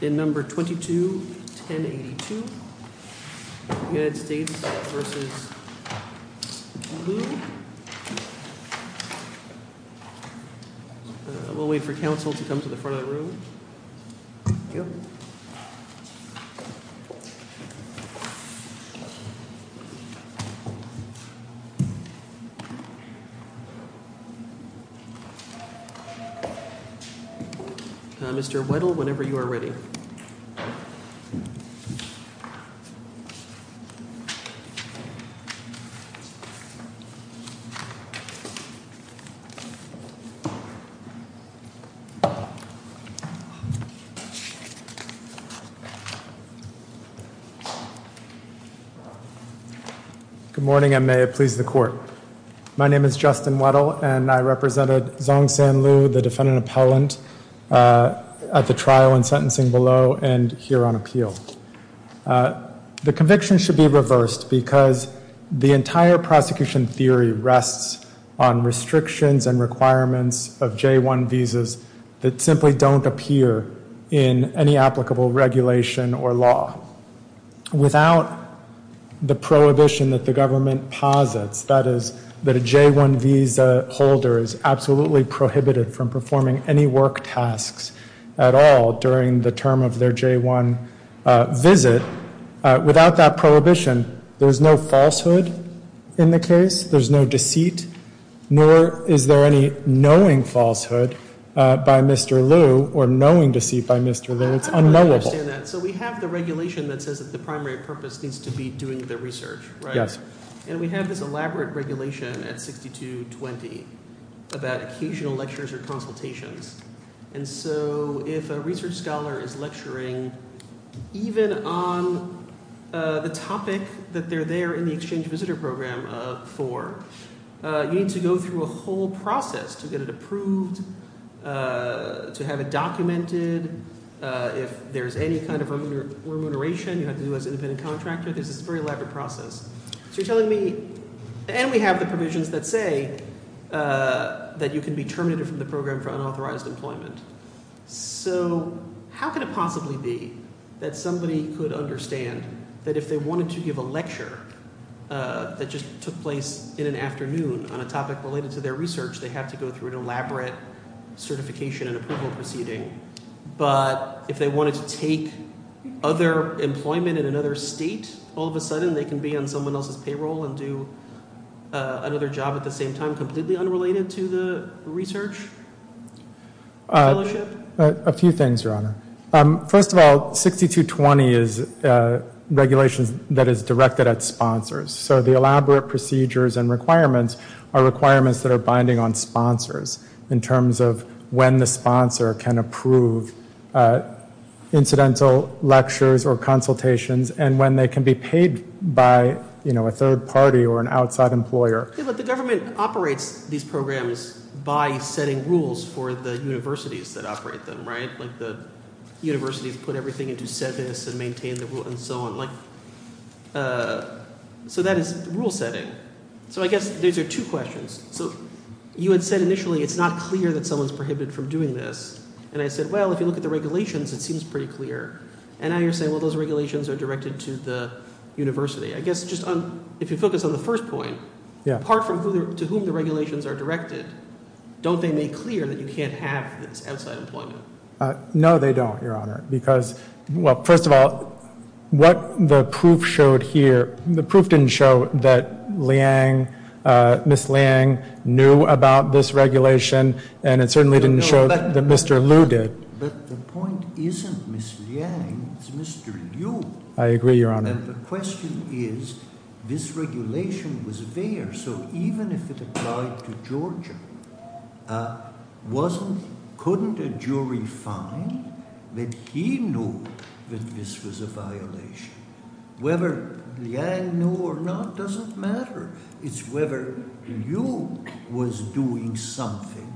We will wait for counsel to come to the front of the room. Thank you. Good morning, and may it please the court. My name is Justin Weddle, and I represented Zong San Liu, the defendant appellant, at the trial and sentencing below and here on appeal. The conviction should be reversed because the entire prosecution theory rests on restrictions and requirements of J-1 visas that simply don't appear in any applicable regulation or law. Without the prohibition that the government posits, that is, that a J-1 visa holder is absolutely prohibited from performing any work tasks at all during the term of their J-1 visit, without that prohibition, there's no falsehood in the case. There's no deceit, nor is there any knowing falsehood by Mr. Liu or knowing deceit by Mr. Liu. It's unknowable. I understand that. So we have the regulation that says that the primary purpose needs to be doing the research, right? Yes. And we have this elaborate regulation at 6220 about occasional lectures or consultations. And so if a research scholar is lecturing, even on the topic that they're there in the exchange visitor program for, you need to go through a whole process to get it approved, to have it documented. If there's any kind of remuneration you have to do as an independent contractor, this is a very elaborate process. So you're telling me – and we have the provisions that say that you can be terminated from the program for unauthorized employment. So how could it possibly be that somebody could understand that if they wanted to give a lecture that just took place in an afternoon on a topic related to their research, they have to go through an elaborate certification and approval proceeding? But if they wanted to take other employment in another state, all of a sudden they can be on someone else's payroll and do another job at the same time, completely unrelated to the research fellowship? A few things, Your Honor. First of all, 6220 is regulations that is directed at sponsors. So the elaborate procedures and requirements are requirements that are binding on sponsors in terms of when the sponsor can approve incidental lectures or consultations and when they can be paid by a third party or an outside employer. But the government operates these programs by setting rules for the universities that operate them, right? Like the universities put everything into SEVIS and maintain the rule and so on. So that is rule setting. So I guess these are two questions. So you had said initially it's not clear that someone is prohibited from doing this. And I said, well, if you look at the regulations, it seems pretty clear. And now you're saying, well, those regulations are directed to the university. I guess just on – if you focus on the first point. Apart from to whom the regulations are directed, don't they make clear that you can't have this outside employment? No, they don't, Your Honor, because – well, first of all, what the proof showed here – the proof didn't show that Liang – Ms. Liang knew about this regulation. And it certainly didn't show that Mr. Liu did. But the point isn't Ms. Liang. It's Mr. Liu. I agree, Your Honor. And the question is this regulation was there. So even if it applied to Georgia, wasn't – couldn't a jury find that he knew that this was a violation? Whether Liang knew or not doesn't matter. It's whether Liu was doing something.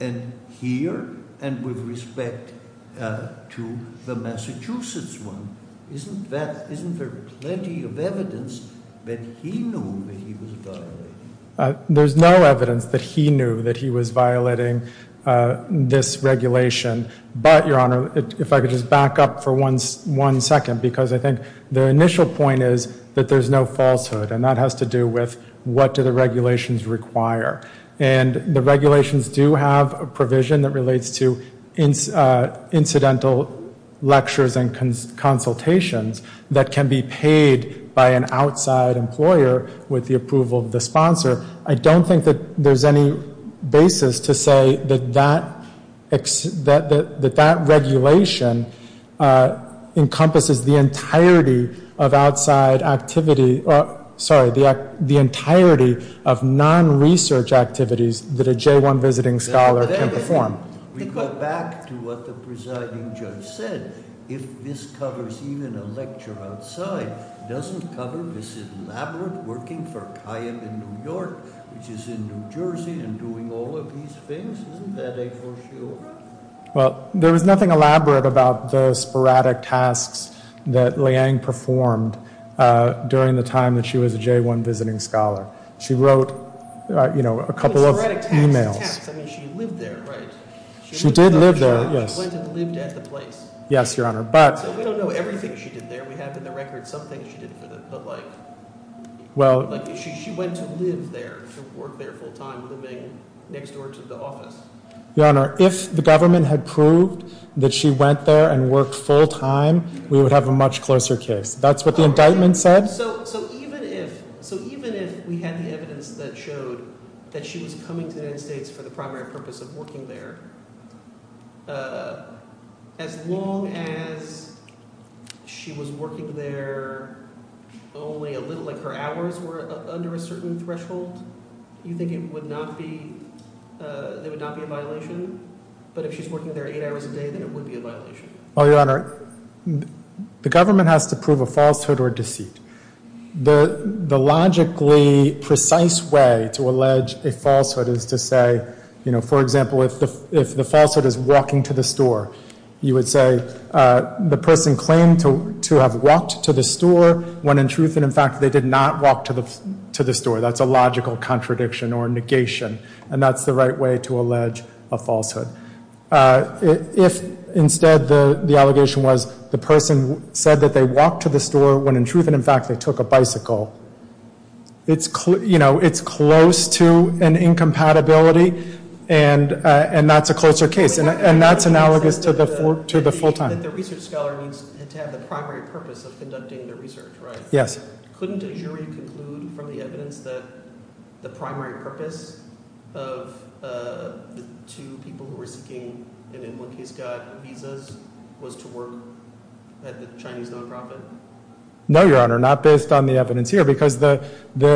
And here and with respect to the Massachusetts one, isn't that – isn't there plenty of evidence that he knew that he was violating? There's no evidence that he knew that he was violating this regulation. But, Your Honor, if I could just back up for one second, because I think the initial point is that there's no falsehood. And that has to do with what do the regulations require. And the regulations do have a provision that relates to incidental lectures and consultations that can be paid by an outside employer with the approval of the sponsor. I don't think that there's any basis to say that that regulation encompasses the entirety of outside activity – sorry, the entirety of non-research activities that a J-1 visiting scholar can perform. We go back to what the presiding judge said. If this covers even a lecture outside, doesn't cover this elaborate working for Kayib in New York, which is in New Jersey, and doing all of these things? Isn't that a falsehood? Well, there was nothing elaborate about the sporadic tasks that Liang performed during the time that she was a J-1 visiting scholar. She wrote, you know, a couple of emails. I mean, she lived there, right? She did live there, yes. She went and lived at the place. Yes, Your Honor. So we don't know everything she did there. We have in the record some things she did for the like. She went to live there, to work there full-time, living next door to the office. Your Honor, if the government had proved that she went there and worked full-time, we would have a much closer case. That's what the indictment said. So even if we had the evidence that showed that she was coming to the United States for the primary purpose of working there, as long as she was working there only a little, like her hours were under a certain threshold, you think it would not be – there would not be a violation? But if she's working there eight hours a day, then it would be a violation. Well, Your Honor, the government has to prove a falsehood or deceit. The logically precise way to allege a falsehood is to say, you know, for example, if the falsehood is walking to the store, you would say the person claimed to have walked to the store when in truth and in fact they did not walk to the store. That's a logical contradiction or negation, and that's the right way to allege a falsehood. If instead the allegation was the person said that they walked to the store when in truth and in fact they took a bicycle, it's close to an incompatibility, and that's a closer case, and that's analogous to the full-time. Yes. No, Your Honor, not based on the evidence here, because the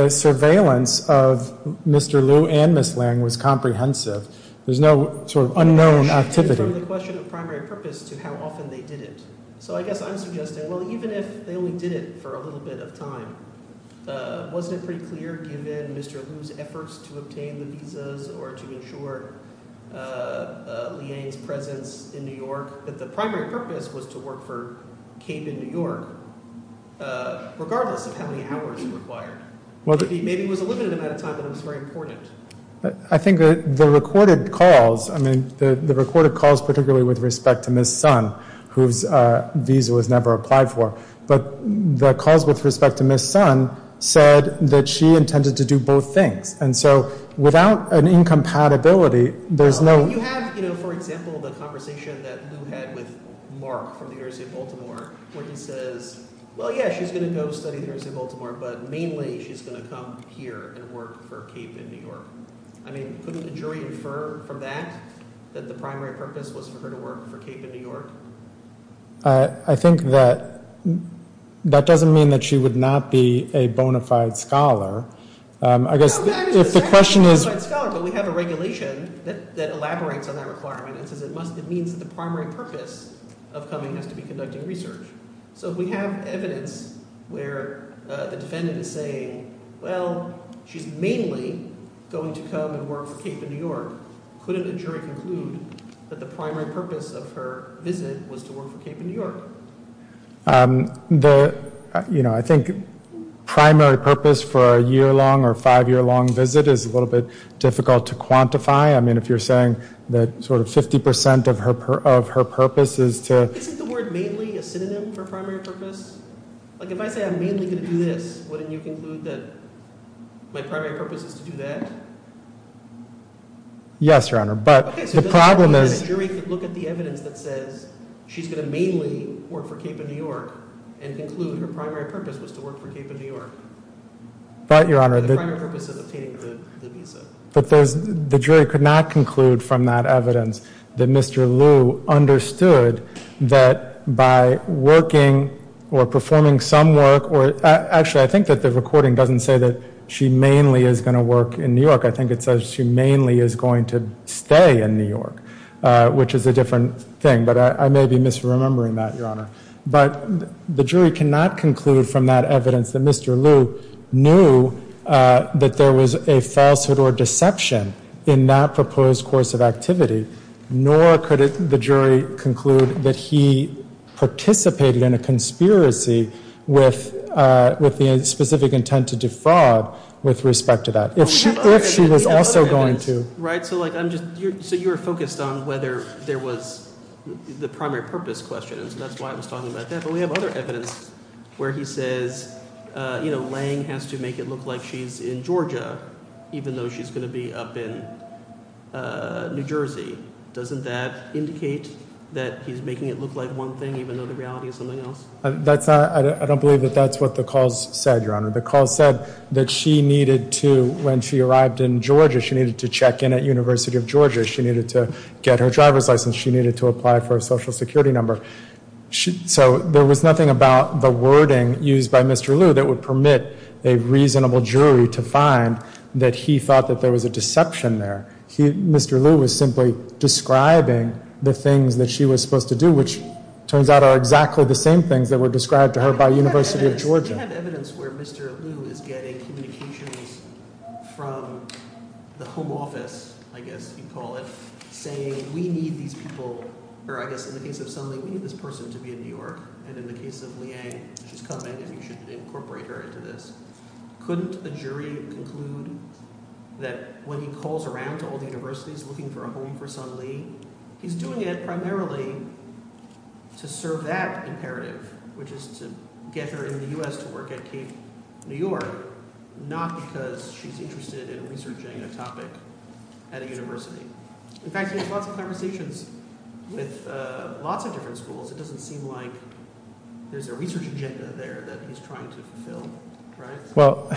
surveillance of Mr. Liu and Ms. Lange was comprehensive. There's no sort of unknown activity. From the question of primary purpose to how often they did it. So I guess I'm suggesting, well, even if they only did it for a little bit of time, wasn't it pretty clear given Mr. Liu's efforts to obtain the visas or to ensure Liang's presence in New York that the primary purpose was to work for CAIB in New York, regardless of how many hours it required? Maybe it was a limited amount of time, but it was very important. I think the recorded calls, I mean, the recorded calls particularly with respect to Ms. Sun, whose visa was never applied for, but the calls with respect to Ms. Sun said that she intended to do both things. And so without an incompatibility, there's no— I mean, couldn't the jury infer from that that the primary purpose was for her to work for CAIB in New York? I think that that doesn't mean that she would not be a bona fide scholar. I guess if the question is— No, that is exactly a bona fide scholar, but we have a regulation that elaborates on that requirement and says it must—it means that the primary purpose of coming has to be conducting research. So we have evidence where the defendant is saying, well, she's mainly going to come and work for CAIB in New York. Couldn't a jury conclude that the primary purpose of her visit was to work for CAIB in New York? The—you know, I think primary purpose for a year-long or five-year-long visit is a little bit difficult to quantify. I mean, if you're saying that sort of 50 percent of her purpose is to— Like, if I say I'm mainly going to do this, wouldn't you conclude that my primary purpose is to do that? Yes, Your Honor, but the problem is— Okay, so does that mean that a jury could look at the evidence that says she's going to mainly work for CAIB in New York and conclude her primary purpose was to work for CAIB in New York? But, Your Honor, the— The primary purpose of obtaining the visa. But there's—the jury could not conclude from that evidence that Mr. Lu understood that by working or performing some work or— Actually, I think that the recording doesn't say that she mainly is going to work in New York. I think it says she mainly is going to stay in New York, which is a different thing. But I may be misremembering that, Your Honor. But the jury cannot conclude from that evidence that Mr. Lu knew that there was a falsehood or deception in that proposed course of activity, nor could the jury conclude that he participated in a conspiracy with the specific intent to defraud with respect to that. If she was also going to— So you're focused on whether there was the primary purpose question, and so that's why I was talking about that. But we have other evidence where he says, you know, Lange has to make it look like she's in Georgia even though she's going to be up in New Jersey. Doesn't that indicate that he's making it look like one thing even though the reality is something else? That's not—I don't believe that that's what the calls said, Your Honor. The call said that she needed to, when she arrived in Georgia, she needed to check in at University of Georgia. She needed to get her driver's license. She needed to apply for a social security number. So there was nothing about the wording used by Mr. Lu that would permit a reasonable jury to find that he thought that there was a deception there. Mr. Lu was simply describing the things that she was supposed to do, which turns out are exactly the same things that were described to her by University of Georgia. We do have evidence where Mr. Lu is getting communications from the home office, I guess you'd call it, saying we need these people—or I guess in the case of Sun Li, we need this person to be in New York. And in the case of Liang, she's coming and you should incorporate her into this. Couldn't a jury conclude that when he calls around to all the universities looking for a home for Sun Li, he's doing it primarily to serve that imperative, which is to get her in the U.S. to work at Cape New York, not because she's interested in researching a topic at a university. In fact, he has lots of conversations with lots of different schools. It doesn't seem like there's a research agenda there that he's trying to fulfill, right? Well,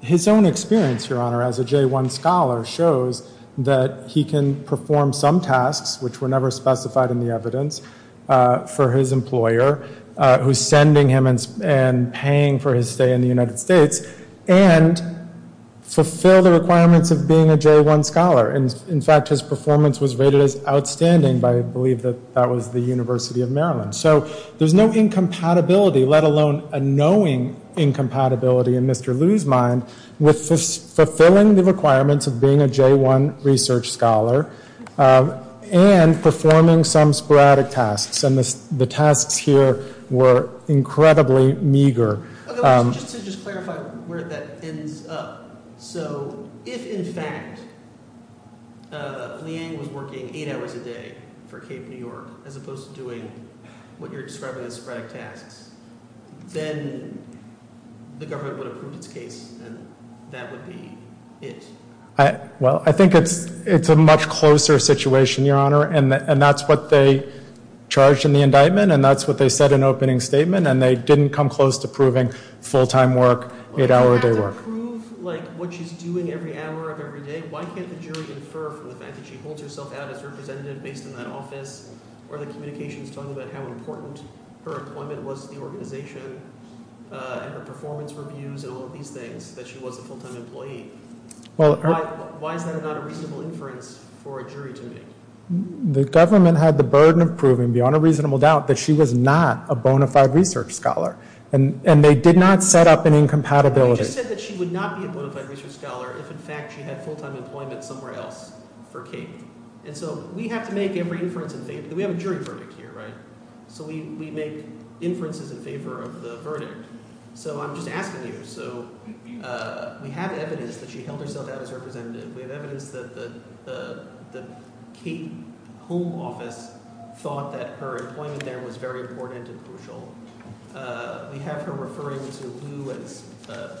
his own experience, Your Honor, as a J-1 scholar shows that he can perform some tasks, which were never specified in the evidence, for his employer, who's sending him and paying for his stay in the United States, and fulfill the requirements of being a J-1 scholar. In fact, his performance was rated as outstanding by, I believe, that was the University of Maryland. So there's no incompatibility, let alone a knowing incompatibility in Mr. Liu's mind, with fulfilling the requirements of being a J-1 research scholar and performing some sporadic tasks. And the tasks here were incredibly meager. Just to clarify where that ends up. So if, in fact, Liang was working eight hours a day for Cape New York, as opposed to doing what you're describing as sporadic tasks, then the government would have proved its case, and that would be it. Well, I think it's a much closer situation, Your Honor, and that's what they charged in the indictment, and that's what they said in the opening statement, and they didn't come close to proving full-time work, eight-hour-a-day work. But you have to prove, like, what she's doing every hour of every day. Why can't the jury infer from the fact that she holds herself out as a representative based in that office, or the communications talking about how important her employment was to the organization, and her performance reviews, and all of these things, that she was a full-time employee? Why is that not a reasonable inference for a jury to make? The government had the burden of proving, beyond a reasonable doubt, that she was not a bona fide research scholar, and they did not set up an incompatibility. But you just said that she would not be a bona fide research scholar if, in fact, she had full-time employment somewhere else for Cape. And so we have to make every inference in favor—we have a jury verdict here, right? So we make inferences in favor of the verdict. So I'm just asking you, so we have evidence that she held herself out as a representative. We have evidence that the Cape Home Office thought that her employment there was very important and crucial. We have her referring to Lou as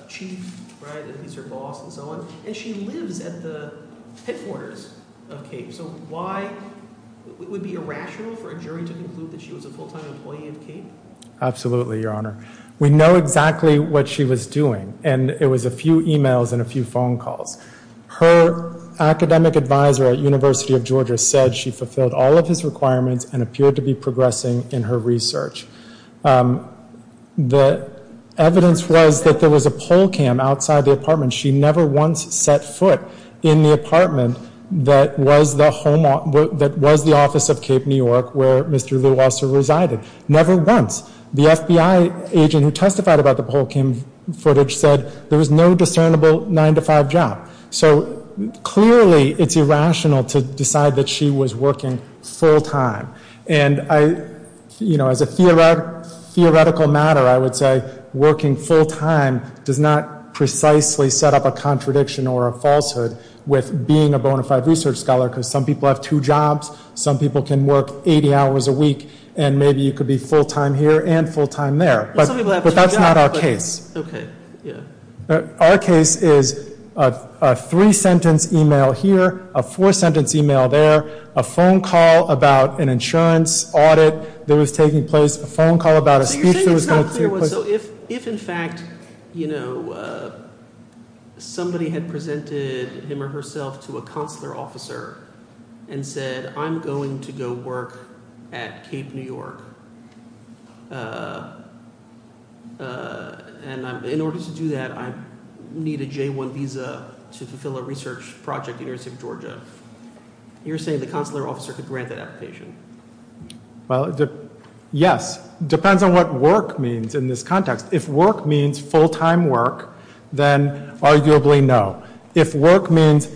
chief, right, and he's her boss and so on. And she lives at the headquarters of Cape. So why—would it be irrational for a jury to conclude that she was a full-time employee of Cape? Absolutely, Your Honor. We know exactly what she was doing, and it was a few e-mails and a few phone calls. Her academic advisor at University of Georgia said she fulfilled all of his requirements and appeared to be progressing in her research. The evidence was that there was a pole cam outside the apartment. She never once set foot in the apartment that was the home—that was the office of Cape New York where Mr. Lou also resided. Never once. The FBI agent who testified about the pole cam footage said there was no discernible 9-to-5 job. So clearly it's irrational to decide that she was working full-time. And I—you know, as a theoretical matter, I would say working full-time does not precisely set up a contradiction or a falsehood with being a bona fide research scholar because some people have two jobs, some people can work 80 hours a week, and maybe you could be full-time here and full-time there. Well, some people have two jobs, but— But that's not our case. Okay. Yeah. Our case is a three-sentence e-mail here, a four-sentence e-mail there, a phone call about an insurance audit that was taking place, a phone call about a speech that was going to take place— So you're saying it's not clear what—so if in fact, you know, somebody had presented him or herself to a consular officer and said, I'm going to go work at Cape New York, and in order to do that, I need a J-1 visa to fulfill a research project at the University of Georgia, you're saying the consular officer could grant that application? Well, yes. It depends on what work means in this context. If work means full-time work, then arguably no. If work means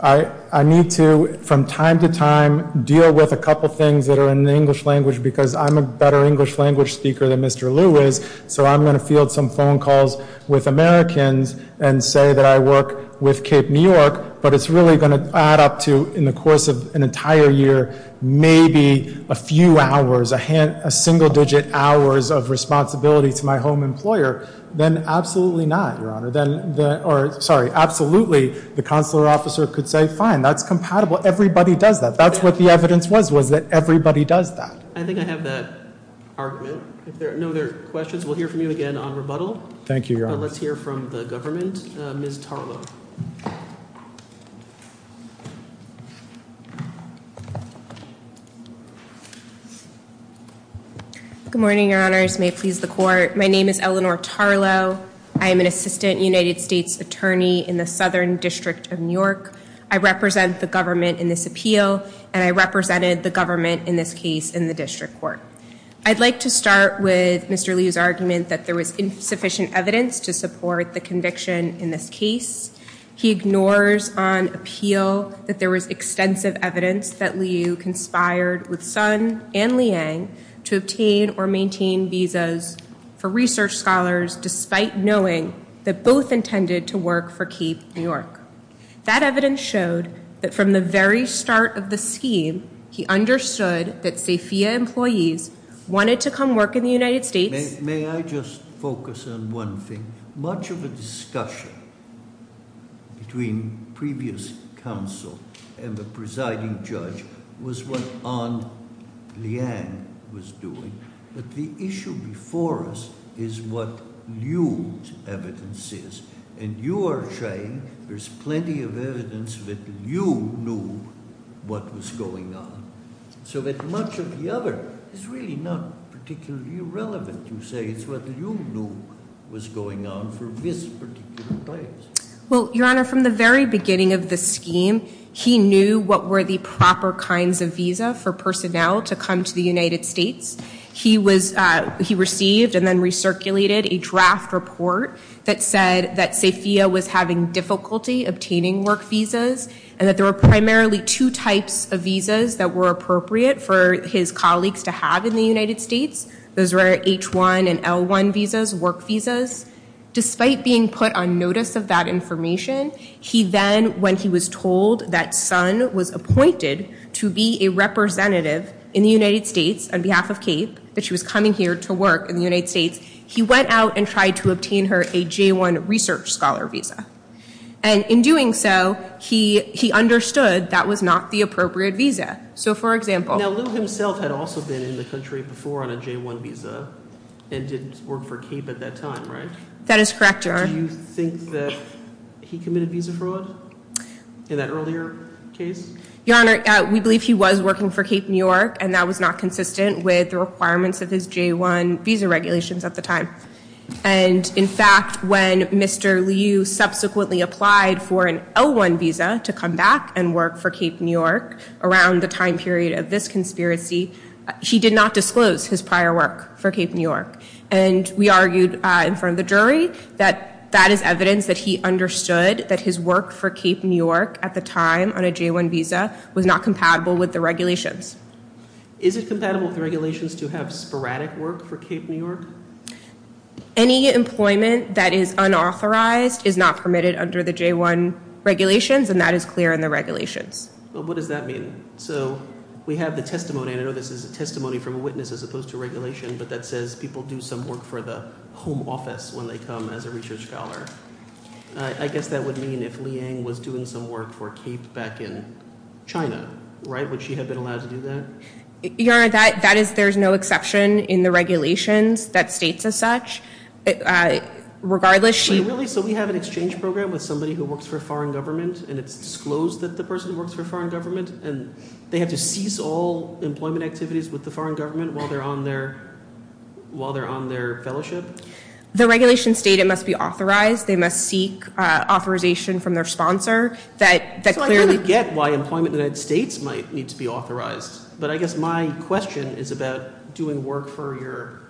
I need to, from time to time, deal with a couple things that are in the English language because I'm a better English language speaker than Mr. Liu is, so I'm going to field some phone calls with Americans and say that I work with Cape New York, but it's really going to add up to, in the course of an entire year, maybe a few hours, a single-digit hours of responsibility to my home employer, then absolutely not, Your Honor. Sorry, absolutely the consular officer could say, fine, that's compatible. Everybody does that. That's what the evidence was, was that everybody does that. I think I have that argument. If there are no other questions, we'll hear from you again on rebuttal. Thank you, Your Honor. Let's hear from the government. Ms. Tarlow. Good morning, Your Honors. May it please the Court. My name is Eleanor Tarlow. I am an assistant United States attorney in the Southern District of New York. I represent the government in this appeal, and I represented the government in this case in the district court. I'd like to start with Mr. Liu's argument that there was insufficient evidence to support the conviction in this case. He ignores on appeal that there was extensive evidence that Liu conspired with Sun and Liang to obtain or maintain visas for research scholars despite knowing that both intended to work for Keep New York. That evidence showed that from the very start of the scheme, he understood that Safia employees wanted to come work in the United States- May I just focus on one thing? Much of the discussion between previous counsel and the presiding judge was what on Liang was doing, but the issue before us is what Liu's evidence is, and you are saying there's plenty of evidence that Liu knew what was going on, so that much of the other is really not particularly relevant. You say it's what Liu knew was going on for this particular place. Well, Your Honor, from the very beginning of the scheme, he knew what were the proper kinds of visa for personnel to come to the United States. He received and then recirculated a draft report that said that Safia was having difficulty obtaining work visas and that there were primarily two types of visas that were appropriate for his colleagues to have in the United States. Those were H-1 and L-1 visas, work visas. Despite being put on notice of that information, he then, when he was told that Sun was appointed to be a representative in the United States on behalf of CAPE, that she was coming here to work in the United States, he went out and tried to obtain her a J-1 research scholar visa, and in doing so, he understood that was not the appropriate visa. Now, Liu himself had also been in the country before on a J-1 visa and didn't work for CAPE at that time, right? That is correct, Your Honor. Do you think that he committed visa fraud in that earlier case? Your Honor, we believe he was working for CAPE New York, and that was not consistent with the requirements of his J-1 visa regulations at the time. And in fact, when Mr. Liu subsequently applied for an L-1 visa to come back and work for CAPE New York around the time period of this conspiracy, he did not disclose his prior work for CAPE New York. And we argued in front of the jury that that is evidence that he understood that his work for CAPE New York at the time on a J-1 visa was not compatible with the regulations. Is it compatible with the regulations to have sporadic work for CAPE New York? Any employment that is unauthorized is not permitted under the J-1 regulations, and that is clear in the regulations. Well, what does that mean? So we have the testimony, and I know this is a testimony from a witness as opposed to regulation, but that says people do some work for the home office when they come as a research scholar. I guess that would mean if Liang was doing some work for CAPE back in China, right? Would she have been allowed to do that? Your Honor, that is – there is no exception in the regulations that states as such. Regardless, she – But really, so we have an exchange program with somebody who works for a foreign government, and it's disclosed that the person works for a foreign government, and they have to cease all employment activities with the foreign government while they're on their fellowship? The regulations state it must be authorized. They must seek authorization from their sponsor that clearly – But I guess my question is about doing work for your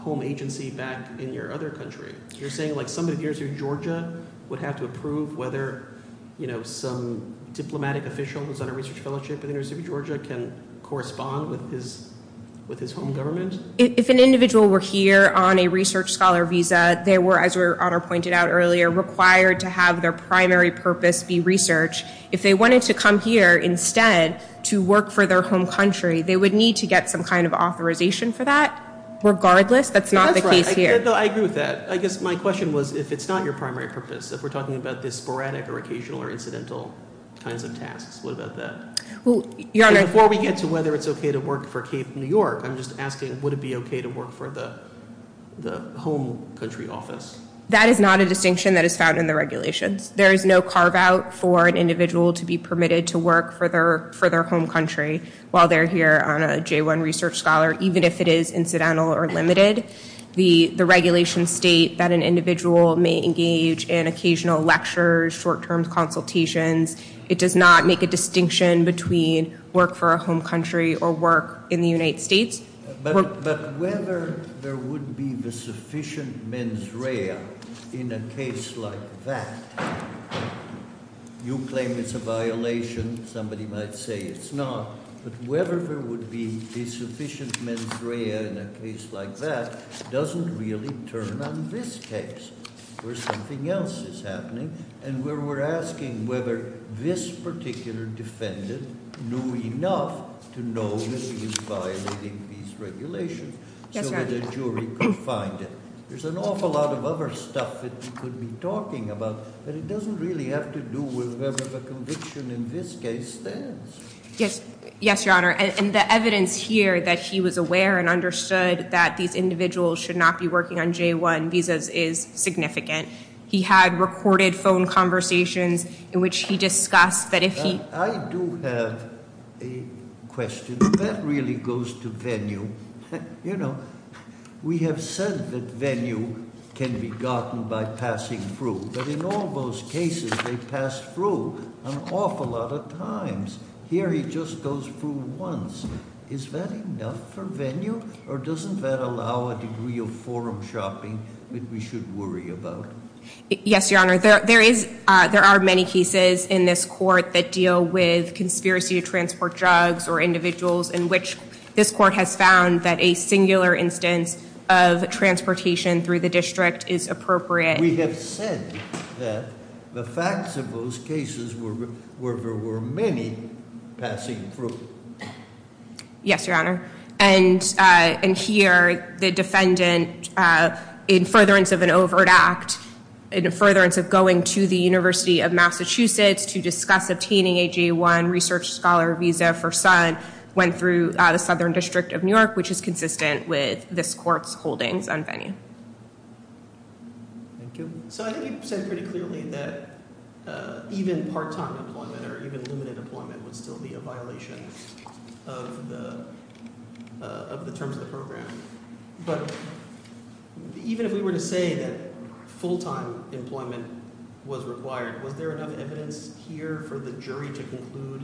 home agency back in your other country. You're saying, like, somebody in the University of Georgia would have to approve whether, you know, some diplomatic official who's on a research fellowship in the University of Georgia can correspond with his home government? If an individual were here on a research scholar visa, they were, as Your Honor pointed out earlier, required to have their primary purpose be research. If they wanted to come here instead to work for their home country, they would need to get some kind of authorization for that. Regardless, that's not the case here. No, I agree with that. I guess my question was if it's not your primary purpose, if we're talking about this sporadic or occasional or incidental kinds of tasks, what about that? Well, Your Honor – And before we get to whether it's okay to work for Cape New York, I'm just asking would it be okay to work for the home country office? That is not a distinction that is found in the regulations. There is no carve-out for an individual to be permitted to work for their home country while they're here on a J-1 research scholar, even if it is incidental or limited. The regulations state that an individual may engage in occasional lectures, short-term consultations. It does not make a distinction between work for a home country or work in the United States. But whether there would be the sufficient mens rea in a case like that – you claim it's a violation. Somebody might say it's not. But whether there would be a sufficient mens rea in a case like that doesn't really turn on this case where something else is happening and where we're asking whether this particular defendant knew enough to know that he was violating these regulations so that a jury could find him. There's an awful lot of other stuff that we could be talking about, but it doesn't really have to do with whatever the conviction in this case stands. Yes, Your Honor, and the evidence here that he was aware and understood that these individuals should not be working on J-1 visas is significant. He had recorded phone conversations in which he discussed that if he- I do have a question. That really goes to venue. You know, we have said that venue can be gotten by passing through. But in all those cases, they pass through an awful lot of times. Here he just goes through once. Is that enough for venue? Or doesn't that allow a degree of forum shopping that we should worry about? Yes, Your Honor. There are many cases in this court that deal with conspiracy to transport drugs or individuals in which this court has found that a singular instance of transportation through the district is appropriate. We have said that the facts of those cases were there were many passing through. Yes, Your Honor. And here the defendant, in furtherance of an overt act, in furtherance of going to the University of Massachusetts to discuss obtaining a J-1 research scholar visa for Sun, which is consistent with this court's holdings on venue. Thank you. So I think you've said pretty clearly that even part-time employment or even limited employment would still be a violation of the terms of the program. But even if we were to say that full-time employment was required, was there enough evidence here for the jury to conclude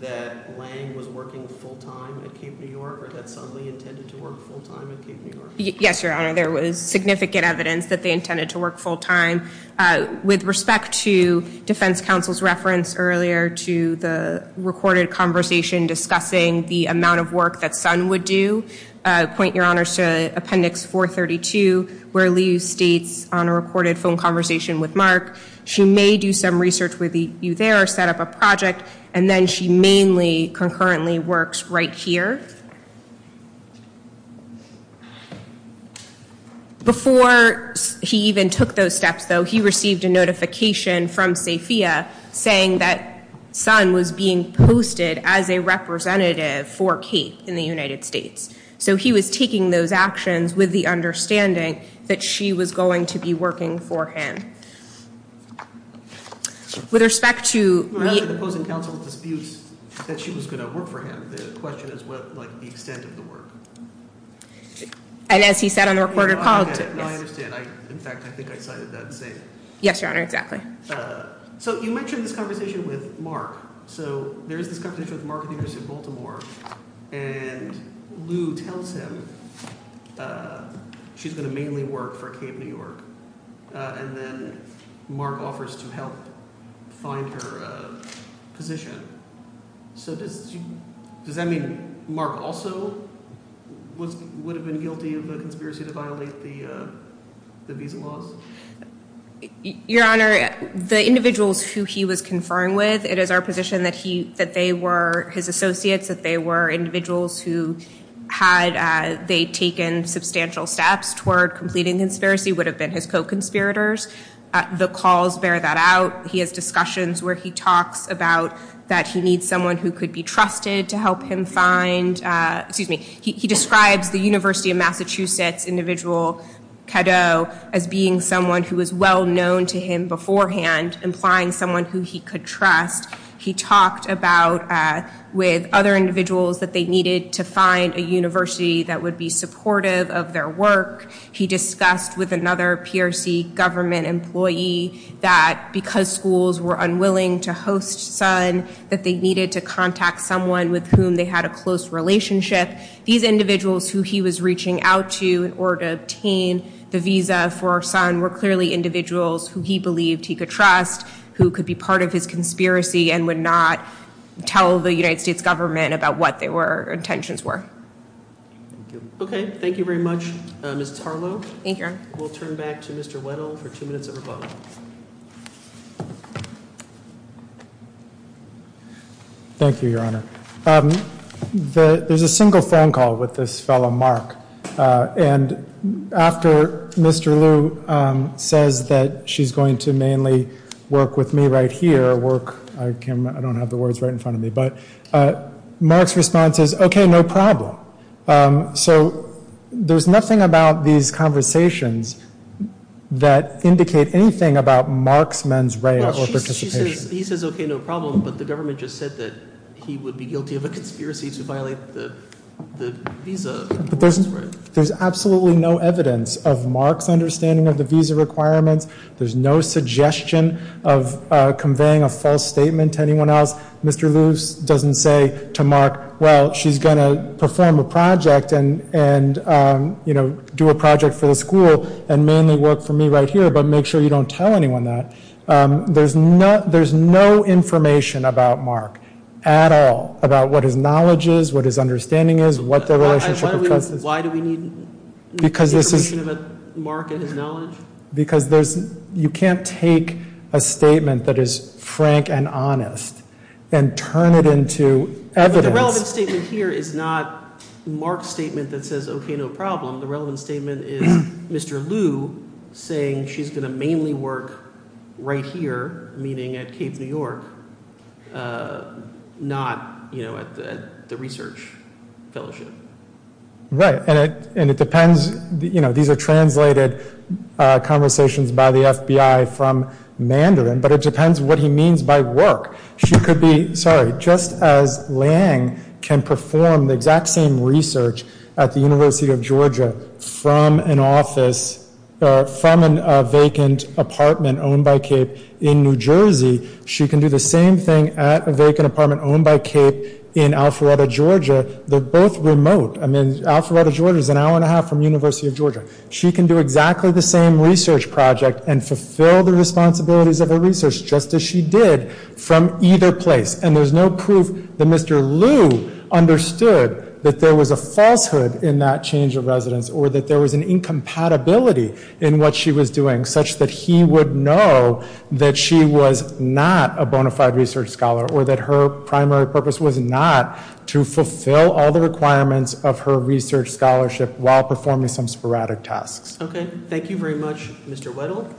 that Lang was working full-time at Cape New York or that Sun Lee intended to work full-time at Cape New York? Yes, Your Honor. There was significant evidence that they intended to work full-time. With respect to defense counsel's reference earlier to the recorded conversation discussing the amount of work that Sun would do, I point, Your Honor, to Appendix 432, where Lee states on a recorded phone conversation with Mark, she may do some research with you there, set up a project, and then she mainly concurrently works right here. Before he even took those steps, though, he received a notification from SAFIA saying that Sun was being posted as a representative for Cape in the United States. So he was taking those actions with the understanding that she was going to be working for him. With respect to the opposing counsel disputes that she was going to work for him, the question is what, like, the extent of the work. And as he said on the recorded call, too. I understand. In fact, I think I cited that saying. Yes, Your Honor, exactly. So you mentioned this conversation with Mark. So there is this conversation with Mark at the University of Baltimore, and Lou tells him she's going to mainly work for Cape New York. And then Mark offers to help find her position. So does that mean Mark also would have been guilty of a conspiracy to violate the visa laws? Your Honor, the individuals who he was conferring with, it is our position that they were his associates, that they were individuals who, had they taken substantial steps toward completing conspiracy, would have been his co-conspirators. The calls bear that out. He has discussions where he talks about that he needs someone who could be trusted to help him find. He describes the University of Massachusetts individual, Cadot, as being someone who was well-known to him beforehand, implying someone who he could trust. He talked about, with other individuals, that they needed to find a university that would be supportive of their work. He discussed with another PRC government employee that because schools were unwilling to host Sun, that they needed to contact someone with whom they had a close relationship. These individuals who he was reaching out to in order to obtain the visa for Sun were clearly individuals who he believed he could trust, who could be part of his conspiracy and would not tell the United States government about what their intentions were. Okay, thank you very much, Ms. Tarlow. Thank you, Your Honor. We'll turn back to Mr. Weddle for two minutes of rebuttal. Thank you, Your Honor. There's a single phone call with this fellow, Mark. And after Mr. Liu says that she's going to mainly work with me right here, work, I don't have the words right in front of me, but Mark's response is, okay, no problem. So there's nothing about these conversations that indicate anything about Mark's mens rea or participation. He says, okay, no problem, but the government just said that he would be guilty of a conspiracy to violate the visa. There's absolutely no evidence of Mark's understanding of the visa requirements. There's no suggestion of conveying a false statement to anyone else. Mr. Liu doesn't say to Mark, well, she's going to perform a project and do a project for the school and mainly work for me right here, but make sure you don't tell anyone that. There's no information about Mark at all about what his knowledge is, what his understanding is, what the relationship of trust is. Why do we need information about Mark and his knowledge? Because you can't take a statement that is frank and honest and turn it into evidence. But the relevant statement here is not Mark's statement that says, okay, no problem. The relevant statement is Mr. Liu saying she's going to mainly work right here, meaning at Cape New York, not at the research fellowship. Right, and it depends. These are translated conversations by the FBI from Mandarin, but it depends what he means by work. She could be, sorry, just as Liang can perform the exact same research at the University of Georgia from an office, from a vacant apartment owned by Cape in New Jersey, she can do the same thing at a vacant apartment owned by Cape in Alpharetta, Georgia. They're both remote. I mean, Alpharetta, Georgia is an hour and a half from the University of Georgia. She can do exactly the same research project and fulfill the responsibilities of her research just as she did from either place. And there's no proof that Mr. Liu understood that there was a falsehood in that change of residence or that there was an incompatibility in what she was doing such that he would know that she was not a bona fide research scholar or that her primary purpose was not to fulfill all the requirements of her research scholarship while performing some sporadic tasks. Okay, thank you very much, Mr. Weddle.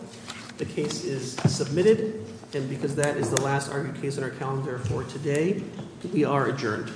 The case is submitted, and because that is the last argued case on our calendar for today, we are adjourned.